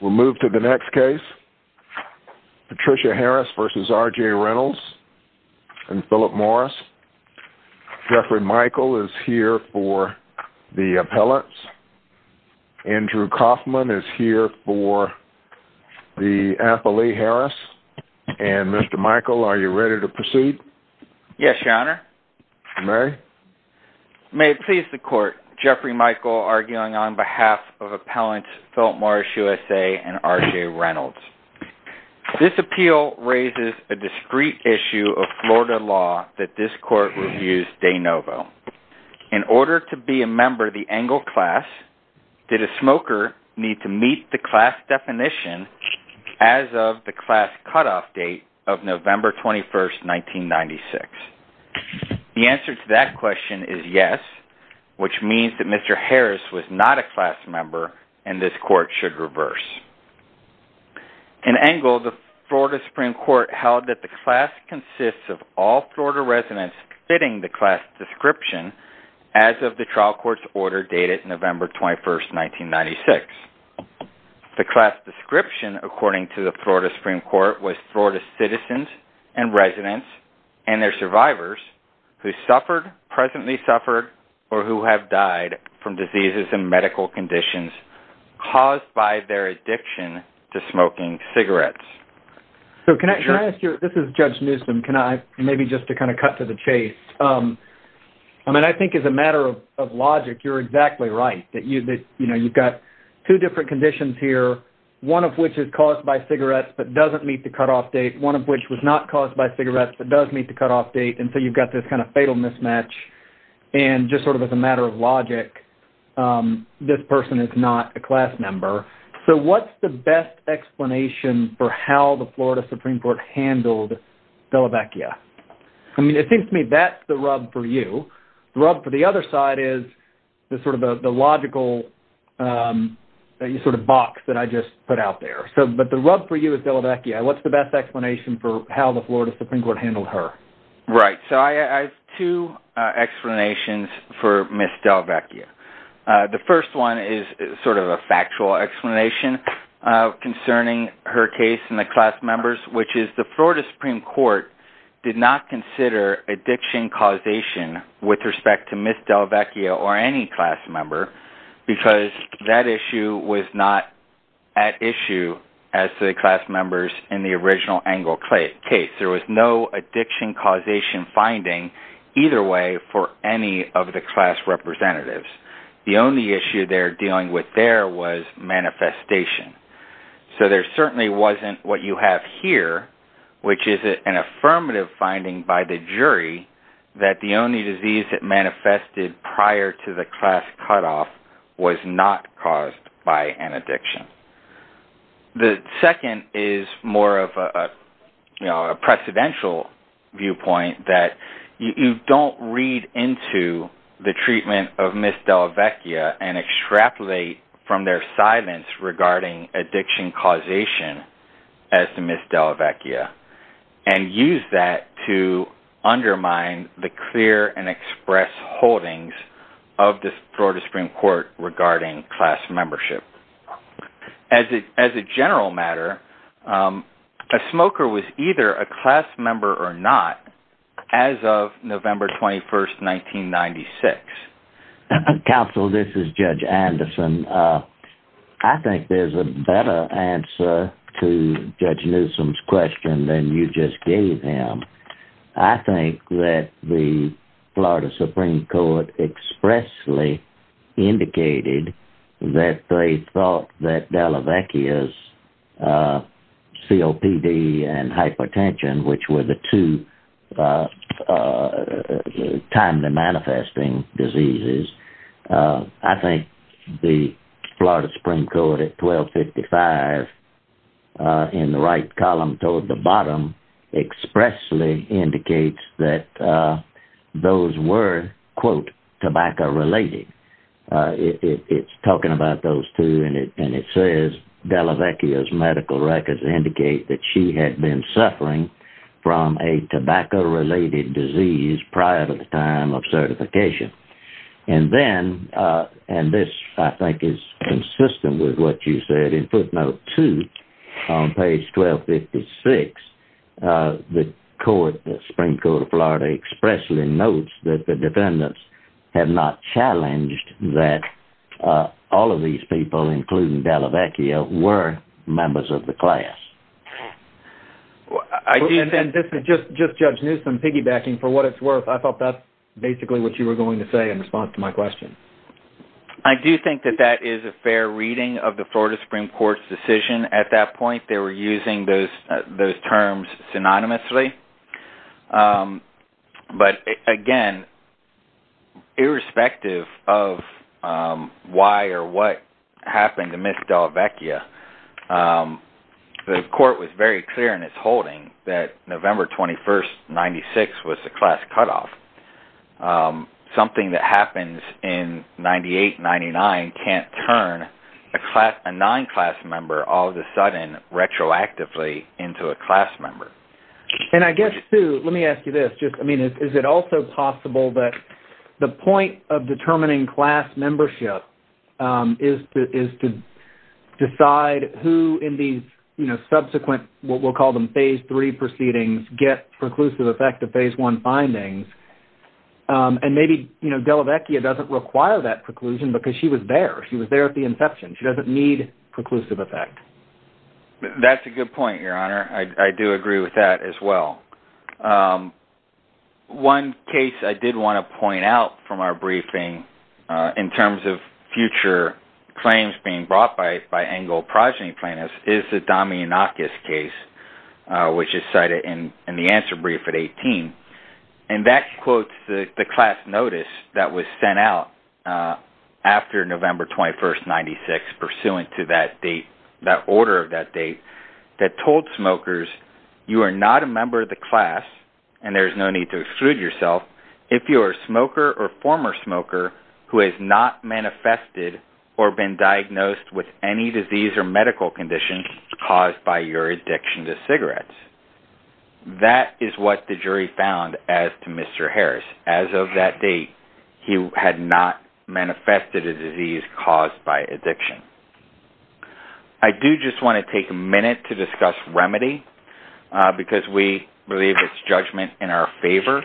We'll move to the next case. Patricia Harris versus R.J. Reynolds and Philip Morris. Jeffrey Michael is here for the appellants. Andrew Kaufman is here for the appellee, Harris. And Mr. Michael, are you ready to proceed? You may. May it please the court, Jeffrey Michael arguing on behalf of appellants Philip Morris, USA, and R.J. Reynolds. This appeal raises a discrete issue of Florida law that this court reviews de novo. In order to be a member of the Engle class, did a smoker need to meet the class definition as of the class cutoff date of November 21, 1996? The answer to that question is yes, which means that Mr. Harris was not a class member and this court should reverse. In Engle, the Florida Supreme Court held that the class consists of all Florida residents fitting the class description as of the trial court's order dated November 21, 1996. The class description, according to the Florida Supreme Court, was Florida citizens and residents and their survivors who suffered, presently suffered, or who have died from diseases and medical conditions caused by their addiction to smoking cigarettes. This is Judge Newsom. Maybe just to kind of cut to the chase. I mean, I think as a matter of logic, you're exactly right. You've got two different conditions here, one of which is caused by cigarettes but doesn't meet the cutoff date, one of which was not caused by cigarettes but does meet the cutoff date. And so you've got this kind of fatal mismatch. And just sort of as a matter of logic, this person is not a class member. So what's the best explanation for how the Florida Supreme Court handled Delavecchia? I mean, it seems to me that's the rub for you. The rub for the other side is sort of the logical sort of box that I just put out there. But the rub for you is Delavecchia. What's the best explanation for how the Florida Supreme Court handled her? Right. So I have two explanations for Ms. Delavecchia. The first one is sort of a factual explanation concerning her case and the class members, which is the Florida Supreme Court did not consider addiction causation with respect to Ms. Delavecchia or any class member because that issue was not at issue as to the class members in the original Engle case. There was no addiction causation finding either way for any of the class representatives. The only issue they're dealing with there was manifestation. So there certainly wasn't what you have here, which is an affirmative finding by the jury that the only disease that manifested prior to the class cutoff was not caused by an addiction. The second is more of a precedential viewpoint that you don't read into the treatment of Ms. Delavecchia and extrapolate from their silence regarding addiction causation as to Ms. Delavecchia and use that to undermine the clear and express holdings of the Florida Supreme Court regarding class membership. As a general matter, a smoker was either a class member or not as of November 21st, 1996. Counsel, this is Judge Anderson. I think there's a better answer to Judge Newsom's question than you just gave him. I think that the Florida Supreme Court expressly indicated that they thought that Delavecchia's COPD and hypertension, which were the two timely manifesting diseases. I think the Florida Supreme Court at 1255 in the right column toward the bottom expressly indicates that those were, quote, tobacco related. It's talking about those two and it says Delavecchia's medical records indicate that she had been suffering from a tobacco related disease prior to the time of certification. This, I think, is consistent with what you said in footnote 2 on page 1256. The Supreme Court of Florida expressly notes that the defendants have not challenged that all of these people, including Delavecchia, were members of the class. Just Judge Newsom piggybacking for what it's worth, I thought that's basically what you were going to say in response to my question. I do think that that is a fair reading of the Florida Supreme Court's decision at that point. They were using those terms synonymously. Again, irrespective of why or what happened amidst Delavecchia, the court was very clear in its holding that November 21, 1996, was a class cutoff. Something that happens in 1998-99 can't turn a non-class member all of a sudden retroactively into a class member. I guess, too, let me ask you this. Is it also possible that the point of determining class membership is to decide who in these subsequent, what we'll call them phase 3 proceedings, get preclusive effect of phase 1 findings? Maybe Delavecchia doesn't require that preclusion because she was there. She was there at the inception. She doesn't need preclusive effect. That's a good point, Your Honor. I do agree with that as well. One case I did want to point out from our briefing in terms of future claims being brought by Engle progeny plaintiffs is the Damianakis case, which is cited in the answer brief at 18. That quotes the class notice that was sent out after November 21, 1996, pursuant to that date, that order of that date, that told smokers, you are not a member of the class, and there's no need to exclude yourself, if you are a smoker or former smoker who has not manifested or been diagnosed with any disease or medical condition caused by your addiction to cigarettes. That is what the jury found as to Mr. Harris. As of that date, he had not manifested a disease caused by addiction. I do just want to take a minute to discuss remedy because we believe it's judgment in our favor,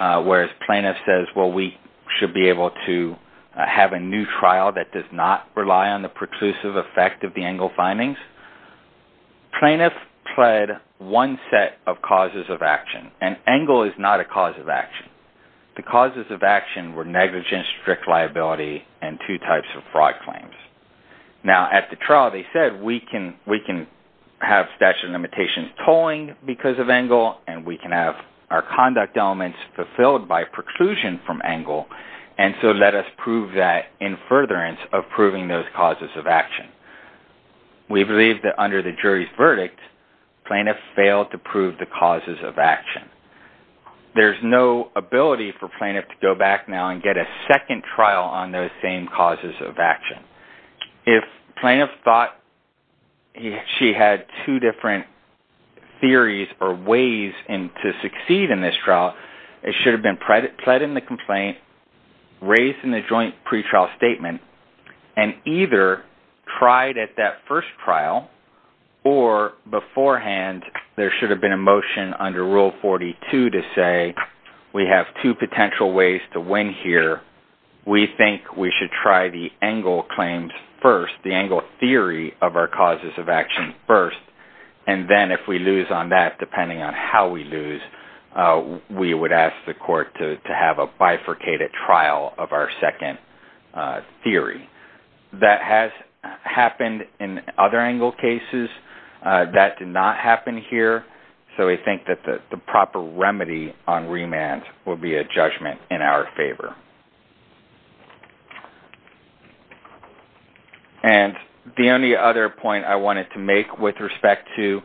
whereas plaintiff says, well, we should be able to have a new trial that does not rely on the preclusive effect of the Engle findings. Plaintiff pled one set of causes of action, and Engle is not a cause of action. The causes of action were negligence, strict liability, and two types of fraud claims. Now, at the trial, they said, we can have statute of limitations tolling because of Engle, and we can have our conduct elements fulfilled by preclusion from Engle, and so let us prove that in furtherance of proving those causes of action. We believe that under the jury's verdict, plaintiff failed to prove the causes of action. There's no ability for plaintiff to go back now and get a second trial on those same causes of action. If plaintiff thought she had two different theories or ways to succeed in this trial, it should have been pled in the complaint, raised in the joint pretrial statement, and either tried at that first trial, or beforehand, there should have been a motion under Rule 42 to say, we have two potential ways to win here. We think we should try the Engle claims first, the Engle theory of our causes of action first, and then if we lose on that, depending on how we lose, we would ask the court to have a bifurcated trial of our second theory. That has happened in other Engle cases. That did not happen here, so we think that the proper remedy on remand will be a judgment in our favor. Thank you. The only other point I wanted to make with respect to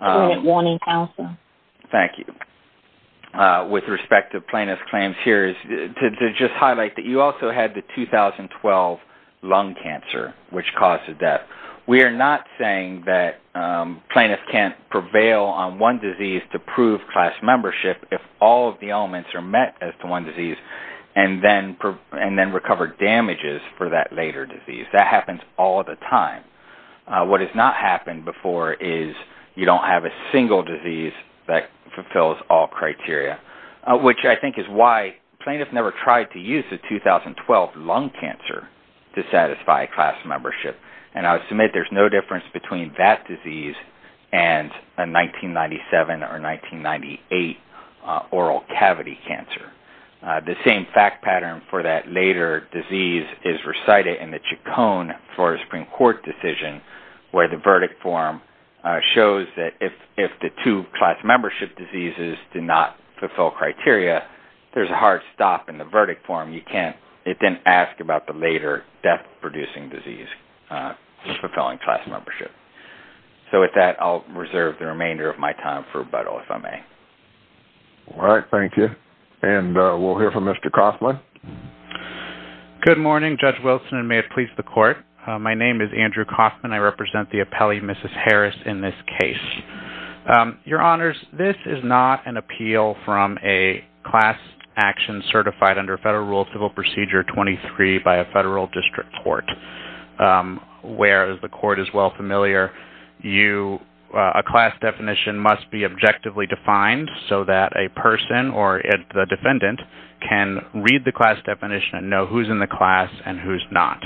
plaintiff claims here is to just highlight that you also had the 2012 lung cancer, which caused the death. We are not saying that plaintiffs can't prevail on one disease to prove class membership if all of the elements are met as to one disease and then recover damages for that later disease. That happens all the time. What has not happened before is you don't have a single disease that fulfills all criteria, which I think is why plaintiffs never tried to use the 2012 lung cancer to satisfy class membership. I submit there's no difference between that disease and a 1997 or 1998 oral cavity cancer. The same fact pattern for that later disease is recited in the Chacon for a Supreme Court decision, where the verdict form shows that if the two class membership diseases do not fulfill criteria, there's a hard stop in the verdict form. It didn't ask about the later death-producing disease fulfilling class membership. With that, I'll reserve the remainder of my time for rebuttal, if I may. All right. Thank you. We'll hear from Mr. Coffman. Good morning, Judge Wilson, and may it please the Court. My name is Andrew Coffman. I represent the appellee, Mrs. Harris, in this case. Your Honors, this is not an appeal from a class action certified under Federal Rule of Civil Procedure 23 by a federal district court, where, as the Court is well familiar, a class definition must be objectively defined so that a person or the defendant can read the class definition and know who's in the class and who's not.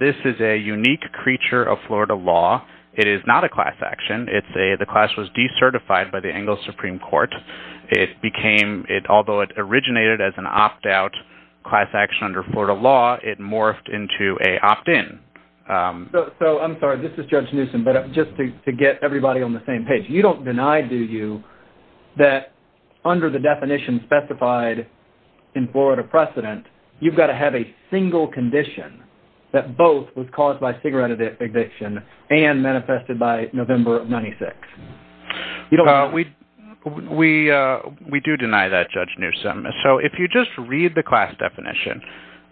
This is a unique creature of Florida law. It is not a class action. The class was decertified by the Anglo Supreme Court. Although it originated as an opt-out class action under Florida law, it morphed into an opt-in. I'm sorry, this is Judge Newsom, but just to get everybody on the same page, you don't deny, do you, that under the definition specified in Florida precedent, you've got to have a single condition that both was caused by cigarette addiction and manifested by November of 1996? We do deny that, Judge Newsom. So if you just read the class definition,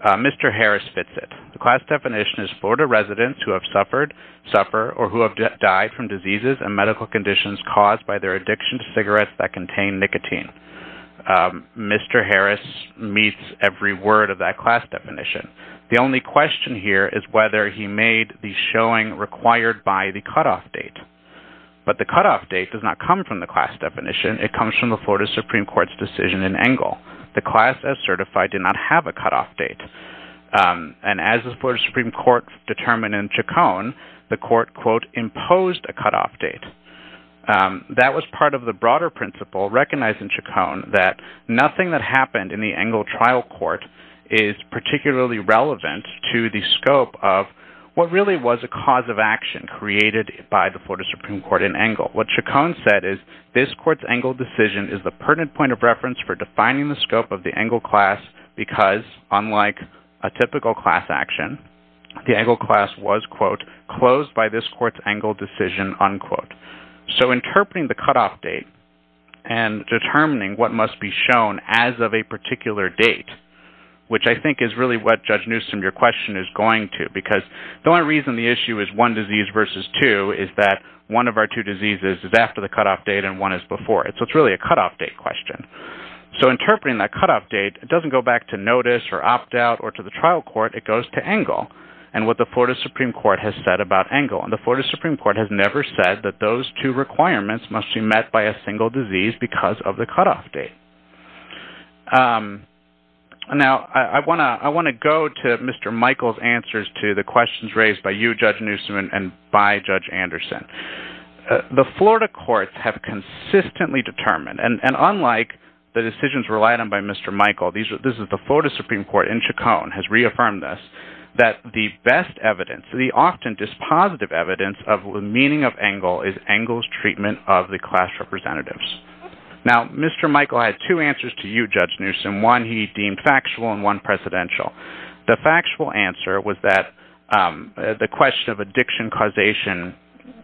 Mr. Harris fits it. The class definition is Florida residents who have suffered, suffer, or who have died from diseases and medical conditions caused by their addiction to cigarettes that contain nicotine. Mr. Harris meets every word of that class definition. The only question here is whether he made the showing required by the cutoff date. But the cutoff date does not come from the class definition. It comes from the Florida Supreme Court's decision in Engle. The class, as certified, did not have a cutoff date. And as the Florida Supreme Court determined in Chacon, the court, quote, imposed a cutoff date. That was part of the broader principle recognized in Chacon that nothing that happened in the Engle trial court is particularly relevant to the scope of what really was a cause of action created by the Florida Supreme Court in Engle. What Chacon said is this court's Engle decision is the pertinent point of reference for defining the scope of the Engle class because unlike a typical class action, the Engle class was, quote, closed by this court's Engle decision, unquote. So interpreting the cutoff date and determining what must be shown as of a particular date, which I think is really what, Judge Newsom, your question is going to, because the only reason the issue is one disease versus two is that one of our two diseases is after the cutoff date and one is before it. So it's really a cutoff date question. So interpreting that cutoff date doesn't go back to notice or opt out or to the trial court. It goes to Engle and what the Florida Supreme Court has said about Engle. And the Florida Supreme Court has never said that those two requirements must be met by a single disease because of the cutoff date. Now, I want to go to Mr. Michael's answers to the questions raised by you, Judge Newsom, and by Judge Anderson. The Florida courts have consistently determined, and unlike the decisions relied on by Mr. Michael, this is the Florida Supreme Court in Chacon has reaffirmed this, that the best evidence, the often dispositive evidence of the meaning of Engle is Engle's treatment of the class representatives. Now, Mr. Michael had two answers to you, Judge Newsom. One he deemed factual and one presidential. The factual answer was that the question of addiction causation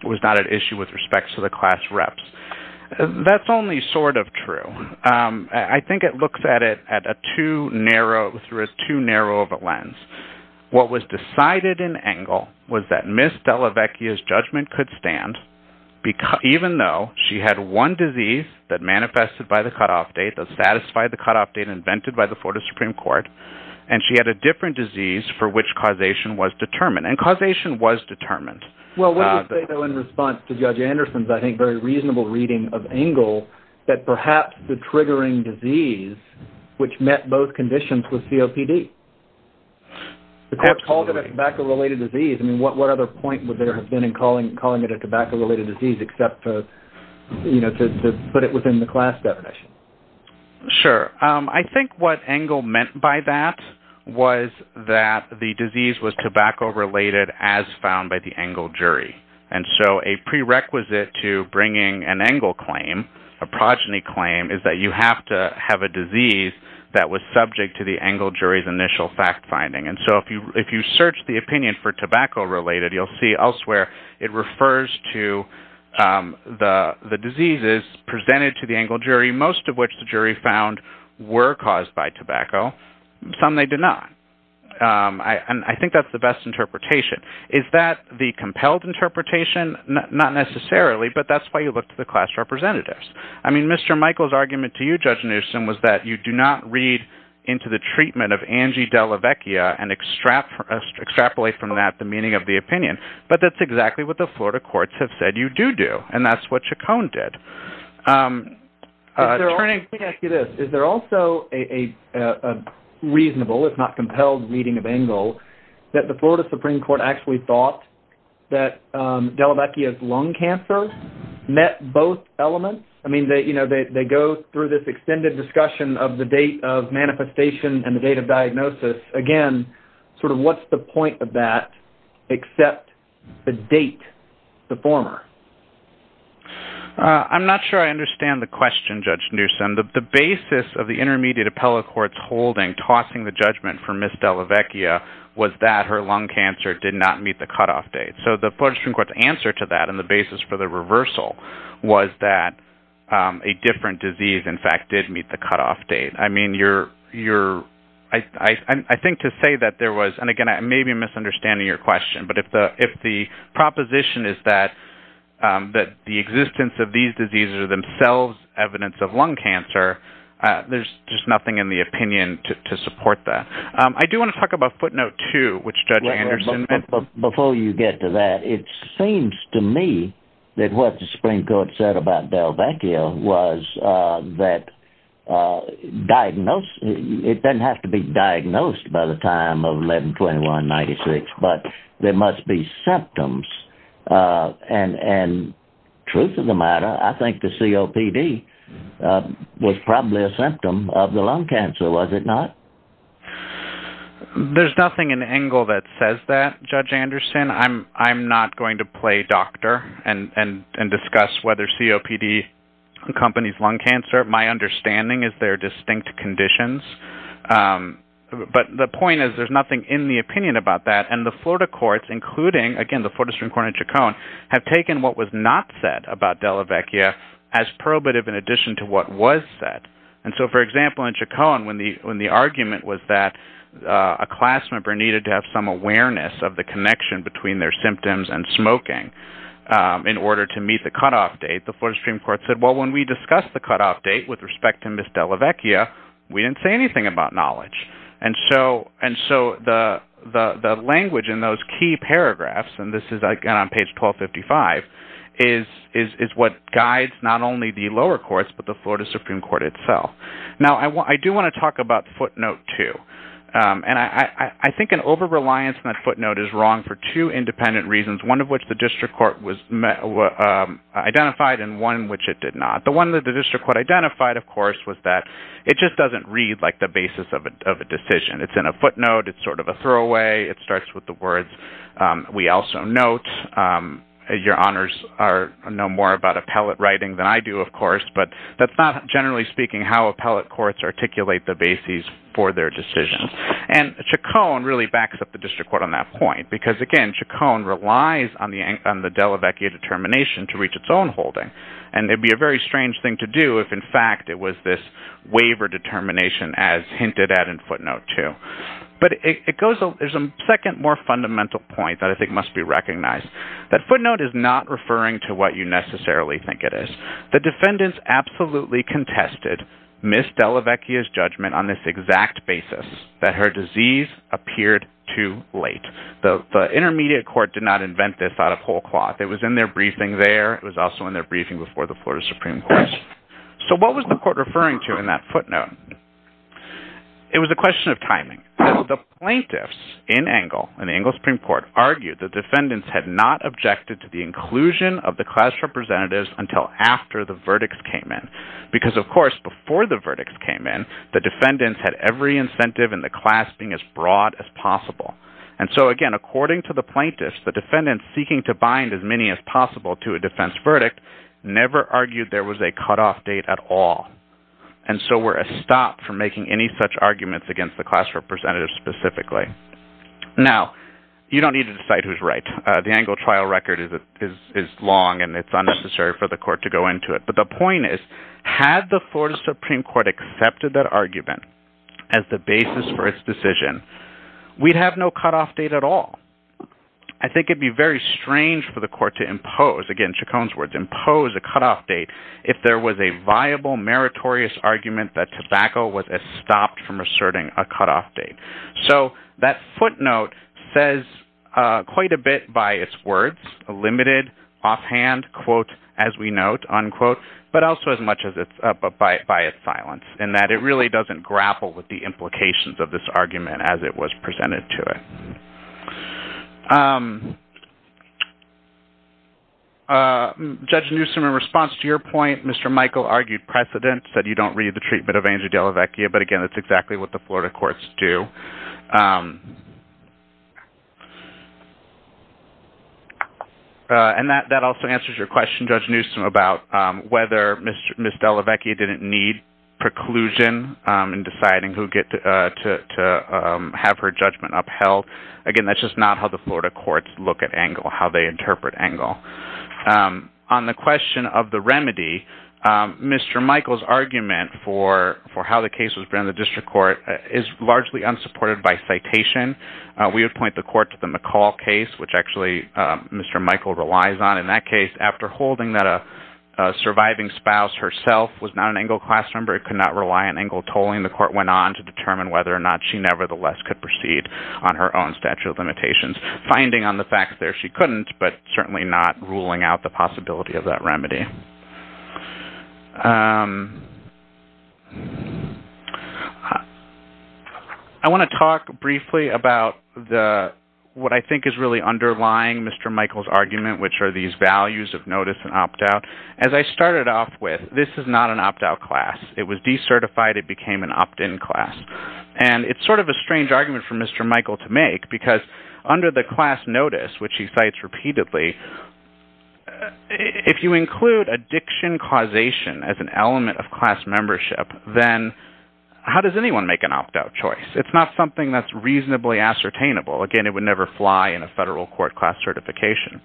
was not an issue with respect to the class reps. That's only sort of true. I think it looks at it through a too narrow of a lens. What was decided in Engle was that Ms. Delavecchia's judgment could stand, even though she had one disease that manifested by the cutoff date, that satisfied the cutoff date invented by the Florida Supreme Court, and she had a different disease for which causation was determined. And causation was determined. Well, what do you say, though, in response to Judge Anderson's, I think, very reasonable reading of Engle, that perhaps the triggering disease, which met both conditions, was COPD? Absolutely. The court called it a tobacco-related disease. I mean, what other point would there have been in calling it a tobacco-related disease, except to put it within the class definition? Sure. I think what Engle meant by that was that the disease was tobacco-related, as found by the Engle jury. And so a prerequisite to bringing an Engle claim, a progeny claim, is that you have to have a disease that was subject to the Engle jury's initial fact-finding. And so if you search the opinion for tobacco-related, you'll see elsewhere it refers to the diseases presented to the Engle jury, most of which the jury found were caused by tobacco. Some they did not. And I think that's the best interpretation. Is that the compelled interpretation? Not necessarily, but that's why you look to the class representatives. I mean, Mr. Michael's argument to you, Judge Anderson, was that you do not read into the treatment of Angie Delavecchia and extrapolate from that the meaning of the opinion. But that's exactly what the Florida courts have said you do do. And that's what Chacon did. Attorney, let me ask you this. Is there also a reasonable, if not compelled, reading of Engle that the Florida Supreme Court actually thought that Delavecchia's lung cancer met both elements? I mean, they go through this extended discussion of the date of manifestation and the date of diagnosis. Again, sort of what's the point of that except the date, the former? I'm not sure I understand the question, Judge Newsom. The basis of the intermediate appellate court's holding, tossing the judgment for Ms. Delavecchia, was that her lung cancer did not meet the cutoff date. So the Florida Supreme Court's answer to that and the basis for the reversal was that a different disease, in fact, did meet the cutoff date. I mean, I think to say that there was, and again, maybe I'm misunderstanding your question, but if the proposition is that the existence of these diseases are themselves evidence of lung cancer, there's just nothing in the opinion to support that. I do want to talk about footnote two, which Judge Anderson... Before you get to that, it seems to me that what the Supreme Court said about Delavecchia was that it doesn't have to be diagnosed by the time of 11-21-96, but there must be symptoms. And truth of the matter, I think the COPD was probably a symptom of the lung cancer, was it not? There's nothing in Engel that says that, Judge Anderson. I'm not going to play doctor and discuss whether COPD accompanies lung cancer. My understanding is there are distinct conditions. But the point is there's nothing in the opinion about that. And the Florida courts, including, again, the Florida Supreme Court and Chacon, have taken what was not said about Delavecchia as probative in addition to what was said. And so, for example, in Chacon, when the argument was that a class member needed to have some awareness of the connection between their symptoms and smoking in order to meet the cutoff date, the Florida Supreme Court said, well, when we discussed the cutoff date with respect to Ms. Delavecchia, we didn't say anything about knowledge. And so the language in those key paragraphs, and this is, again, on page 1255, is what guides not only the lower courts but the Florida Supreme Court itself. Now, I do want to talk about footnote two. And I think an over-reliance on that footnote is wrong for two independent reasons, one of which the district court identified and one which it did not. The one that the district court identified, of course, was that it just doesn't read like the basis of a decision. It's in a footnote. It's sort of a throwaway. It starts with the words, we also note. Your honors know more about appellate writing than I do, of course, but that's not, generally speaking, how appellate courts articulate the basis for their decisions. And Chacon really backs up the district court on that point, because, again, Chacon relies on the Delavecchia determination to reach its own holding. And it would be a very strange thing to do if, in fact, it was this waiver determination as hinted at in footnote two. But there's a second, more fundamental point that I think must be recognized. That footnote is not referring to what you necessarily think it is. The defendants absolutely contested Ms. Delavecchia's judgment on this exact basis, that her disease appeared too late. The intermediate court did not invent this out of whole cloth. It was in their briefing there. It was also in their briefing before the Florida Supreme Court. So what was the court referring to in that footnote? It was a question of timing. The plaintiffs in Engle, in the Engle Supreme Court, argued that defendants had not objected to the inclusion of the class representatives until after the verdicts came in. Because, of course, before the verdicts came in, the defendants had every incentive in the class being as broad as possible. And so, again, according to the plaintiffs, the defendants seeking to bind as many as possible to a defense verdict never argued there was a cutoff date at all. And so we're stopped from making any such arguments against the class representatives specifically. Now, you don't need to decide who's right. The Engle trial record is long, and it's unnecessary for the court to go into it. But the point is, had the Florida Supreme Court accepted that argument as the basis for its decision, we'd have no cutoff date at all. I think it'd be very strange for the court to impose, again, Chacon's words, impose a cutoff date if there was a viable meritorious argument that tobacco was stopped from asserting a cutoff date. So that footnote says quite a bit by its words, limited, offhand, quote, as we note, unquote, but also as much by its silence, in that it really doesn't grapple with the implications of this argument as it was presented to it. Judge Newsom, in response to your point, Mr. Michael argued precedent, said you don't read the treatment of Angie Delavecchia, but again, that's exactly what the Florida courts do. And that also answers your question, Judge Newsom, about whether Ms. Delavecchia didn't need preclusion in deciding who get to have her judgment upheld. Again, that's just not how the Florida courts look at Engle, how they interpret Engle. On the question of the remedy, Mr. Michael's argument for how the case was presented in the district court is largely unsupported by citation. We would point the court to the McCall case, which actually Mr. Michael relies on. In that case, after holding that a surviving spouse herself was not an Engle class member, Engle tolling the court went on to determine whether or not she nevertheless could proceed on her own statute of limitations, finding on the facts there she couldn't, but certainly not ruling out the possibility of that remedy. I want to talk briefly about what I think is really underlying Mr. Michael's argument, which are these values of notice and opt-out. As I started off with, this is not an opt-out class. It became an opt-in class. And it's sort of a strange argument for Mr. Michael to make because under the class notice, which he cites repeatedly, if you include addiction causation as an element of class membership, then how does anyone make an opt-out choice? It's not something that's reasonably ascertainable. Again, it would never fly in a federal court class certification.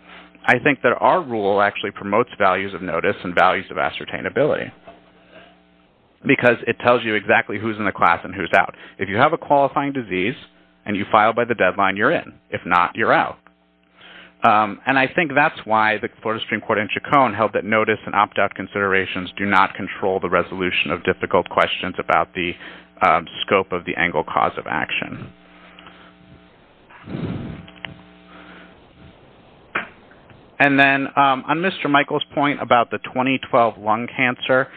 I think that our rule actually promotes values of notice and values of ascertainability because it tells you exactly who's in the class and who's out. If you have a qualifying disease and you file by the deadline, you're in. If not, you're out. And I think that's why the Florida Supreme Court in Chacon held that notice and opt-out considerations do not control the resolution of difficult questions about the scope of the Engle cause of action. And then on Mr. Michael's point about the 2012 lung cancer,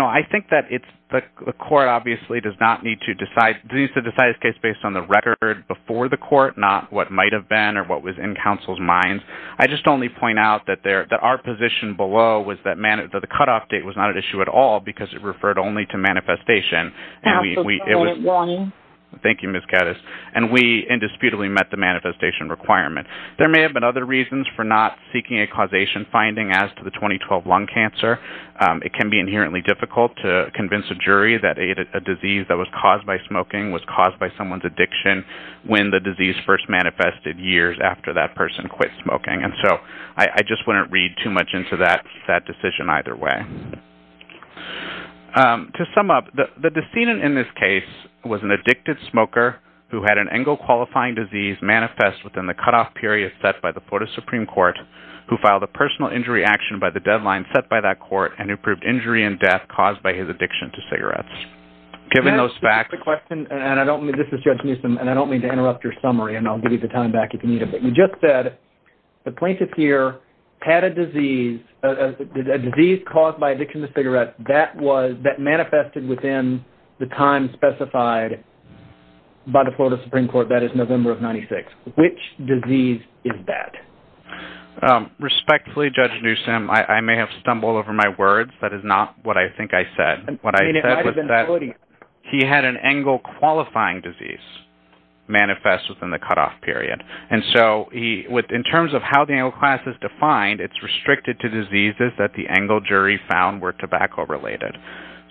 I think that the court obviously does not need to decide this case based on the record before the court, not what might have been or what was in counsel's minds. I just only point out that our position below was that the cutoff date was not an issue at all because it referred only to manifestation. And we indisputably met the manifestation requirement. There may have been other reasons for not seeking a causation finding as to the 2012 lung cancer. It can be inherently difficult to convince a jury that a disease that was caused by smoking was caused by someone's addiction when the disease first manifested years after that person quit smoking. And so I just wouldn't read too much into that decision either way. To sum up, the decedent in this case was an addicted smoker who had an Engle qualifying disease manifest within the cutoff period set by the Florida Supreme Court who filed a personal injury action by the deadline set by that court and who proved injury and death caused by his addiction to cigarettes. Given those facts... This is Judge Newsom, and I don't mean to interrupt your summary, and I'll give you the time back if you need it, but you just said the plaintiff here had a disease caused by addiction to cigarettes that manifested within the time specified by the Florida Supreme Court. That is November of 1996. Which disease is that? Respectfully, Judge Newsom, don't stumble over my words. That is not what I think I said. What I said was that he had an Engle qualifying disease manifest within the cutoff period. And so in terms of how the Engle class is defined, it's restricted to diseases that the Engle jury found were tobacco-related.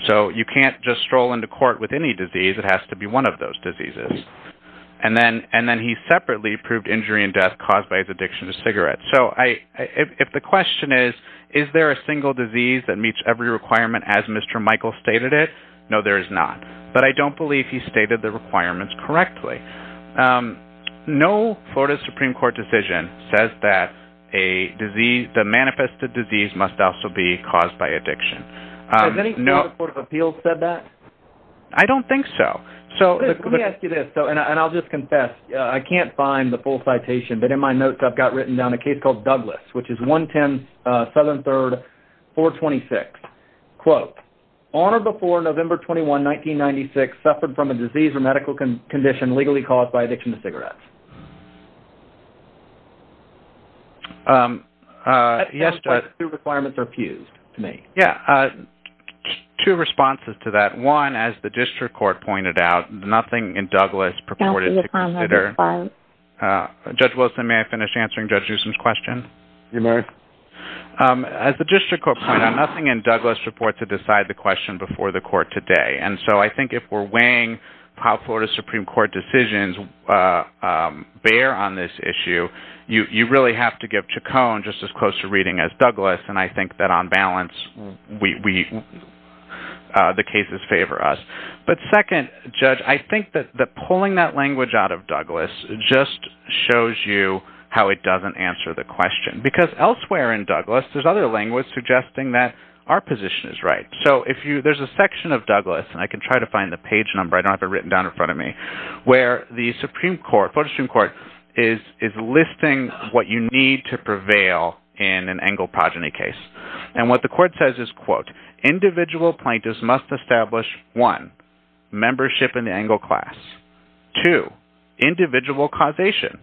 So you can't just stroll into court with any disease. It has to be one of those diseases. And then he separately proved injury and death caused by his addiction to cigarettes. So if the question is, is there a single disease that meets every requirement as Mr. Michael stated it, no, there is not. But I don't believe he stated the requirements correctly. No Florida Supreme Court decision says that the manifested disease must also be caused by addiction. Has any court of appeals said that? I don't think so. Let me ask you this, and I'll just confess. I can't find the full citation, but in my notes I've got written down a case called Douglas, which is 110 Southern 3rd, 426. Quote, on or before November 21, 1996, suffered from a disease or medical condition legally caused by addiction to cigarettes? Yes, Judge. Two requirements are fused to me. Yeah. Two responses to that. One, as the district court pointed out, nothing in Douglas purported to consider. Judge Wilson, may I finish answering Judge Usom's question? You may. As the district court pointed out, nothing in Douglas purported to decide the question before the court today. And so I think if we're weighing how Florida Supreme Court decisions bear on this issue, you really have to give Chacon just as close a reading as Douglas. And I think that on balance, the cases favor us. But second, Judge, I think that pulling that language out of Douglas just shows you how it doesn't answer the question. Because elsewhere in Douglas, there's other language suggesting that our position is right. So there's a section of Douglas, and I can try to find the page number, I don't have it written down in front of me, where the Supreme Court, Florida Supreme Court, is listing what you need to prevail in an Engle progeny case. And what the court says is, quote, individual plaintiffs must establish, one, membership in the Engle class. Two, individual causation,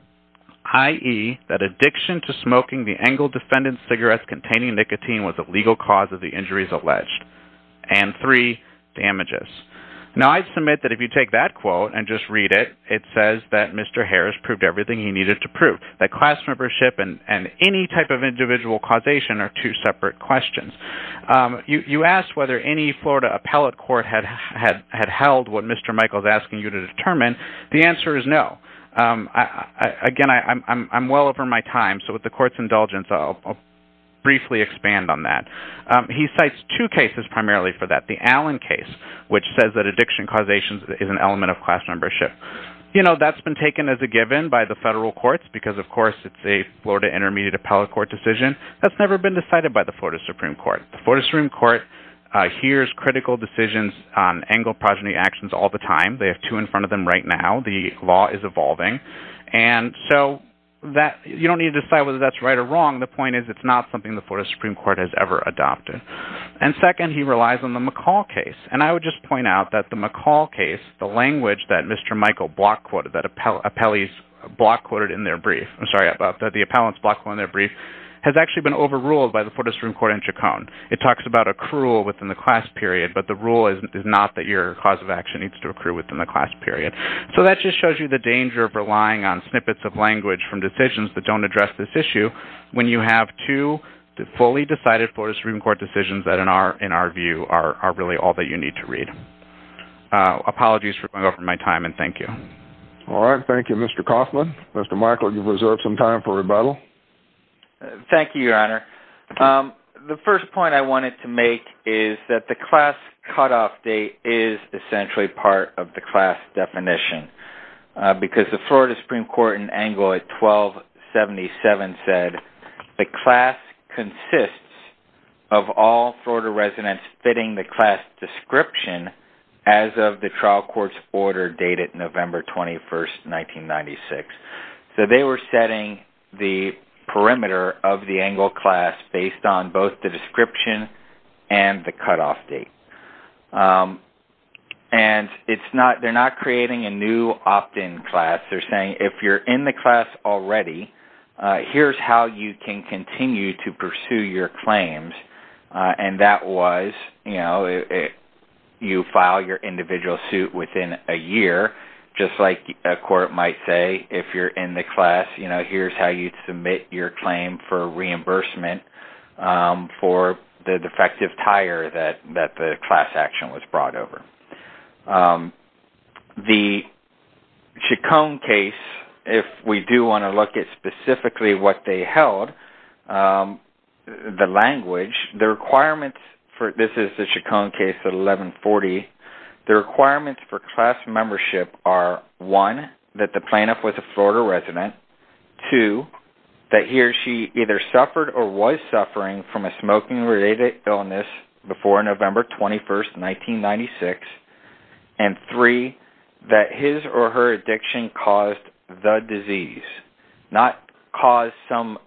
i.e., that addiction to smoking the Engle defendant's cigarettes containing nicotine was a legal cause of the injuries alleged. And three, damages. Now, I submit that if you take that quote and just read it, it says that Mr. Harris proved everything he needed to prove, that class membership and any type of individual causation are two separate questions. You asked whether any Florida appellate court had held what Mr. Michael is asking you to determine. The answer is no. Again, I'm well over my time, so with the court's indulgence, I'll briefly expand on that. He cites two cases primarily for that. The Allen case, which says that addiction causation is an element of class membership. You know, that's been taken as a given by the federal courts, because of course it's a Florida Intermediate Appellate Court decision that's never been decided by the Florida Supreme Court. The Florida Supreme Court hears critical decisions in front of them right now. The law is evolving, and so you don't need to decide whether that's right or wrong. The point is it's not something the Florida Supreme Court has ever adopted. And second, he relies on the McCall case, and I would just point out that the McCall case, the language that Mr. Michael block quoted, that appellees block quoted in their brief, I'm sorry, that the appellants block quoted in their brief, has actually been overruled by the Florida Supreme Court in Chacon. It talks about accrual within the class period, so that just shows you the danger of relying on snippets of language from decisions that don't address this issue when you have two fully decided Florida Supreme Court decisions that in our view are really all that you need to read. Apologies for going over my time, and thank you. All right, thank you, Mr. Kaufman. Mr. Michael, you've reserved some time for rebuttal. Thank you, Your Honor. The first point I wanted to make is that the class cutoff date is essentially part of the class definition because the Florida Supreme Court in Engle at 1277 said, the class consists of all Florida residents fitting the class description as of the trial court's order dated November 21st, 1996. So they were setting the perimeter of the Engle class based on both the description and the cutoff date. And they're not creating a new opt-in class. They're saying if you're in the class already, here's how you can continue to pursue your claims. And that was, you know, you file your individual suit within a year, just like a court might say if you're in the class, here's how you submit your claim for reimbursement for the defective tire that the class action was brought over. The Chaconne case, if we do want to look at specifically what they held, the language, the requirements for, this is the Chaconne case at 1140, the requirements for class membership are one, that the plaintiff was a Florida resident, two, that he or she either suffered or was suffering from a smoking-related illness before November 21st, 1996, and three, that his or her addiction caused the disease, not cause some,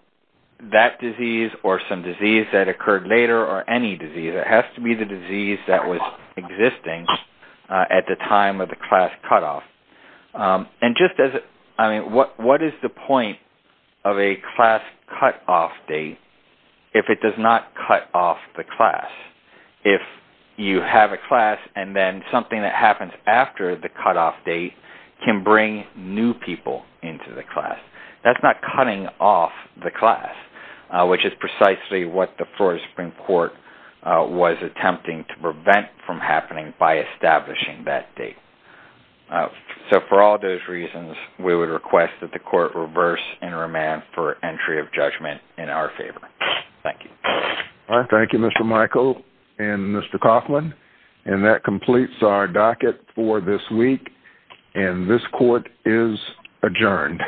that disease or some disease that occurred later or any disease. It has to be the disease that was existing at the time of the class cutoff. And just as, I mean, what is the point of a class cutoff date if it does not cut off the class? If you have a class and then something that happens after the cutoff date can bring new people into the class. That's not cutting off the class, which is precisely what the Florida Supreme Court was attempting to prevent from happening by establishing that date. So for all those reasons, we would request that the court reverse and remand for entry of judgment in our favor. Thank you. Thank you, Mr. Michael and Mr. Kaufman. And that completes our docket for this week. And this court is adjourned.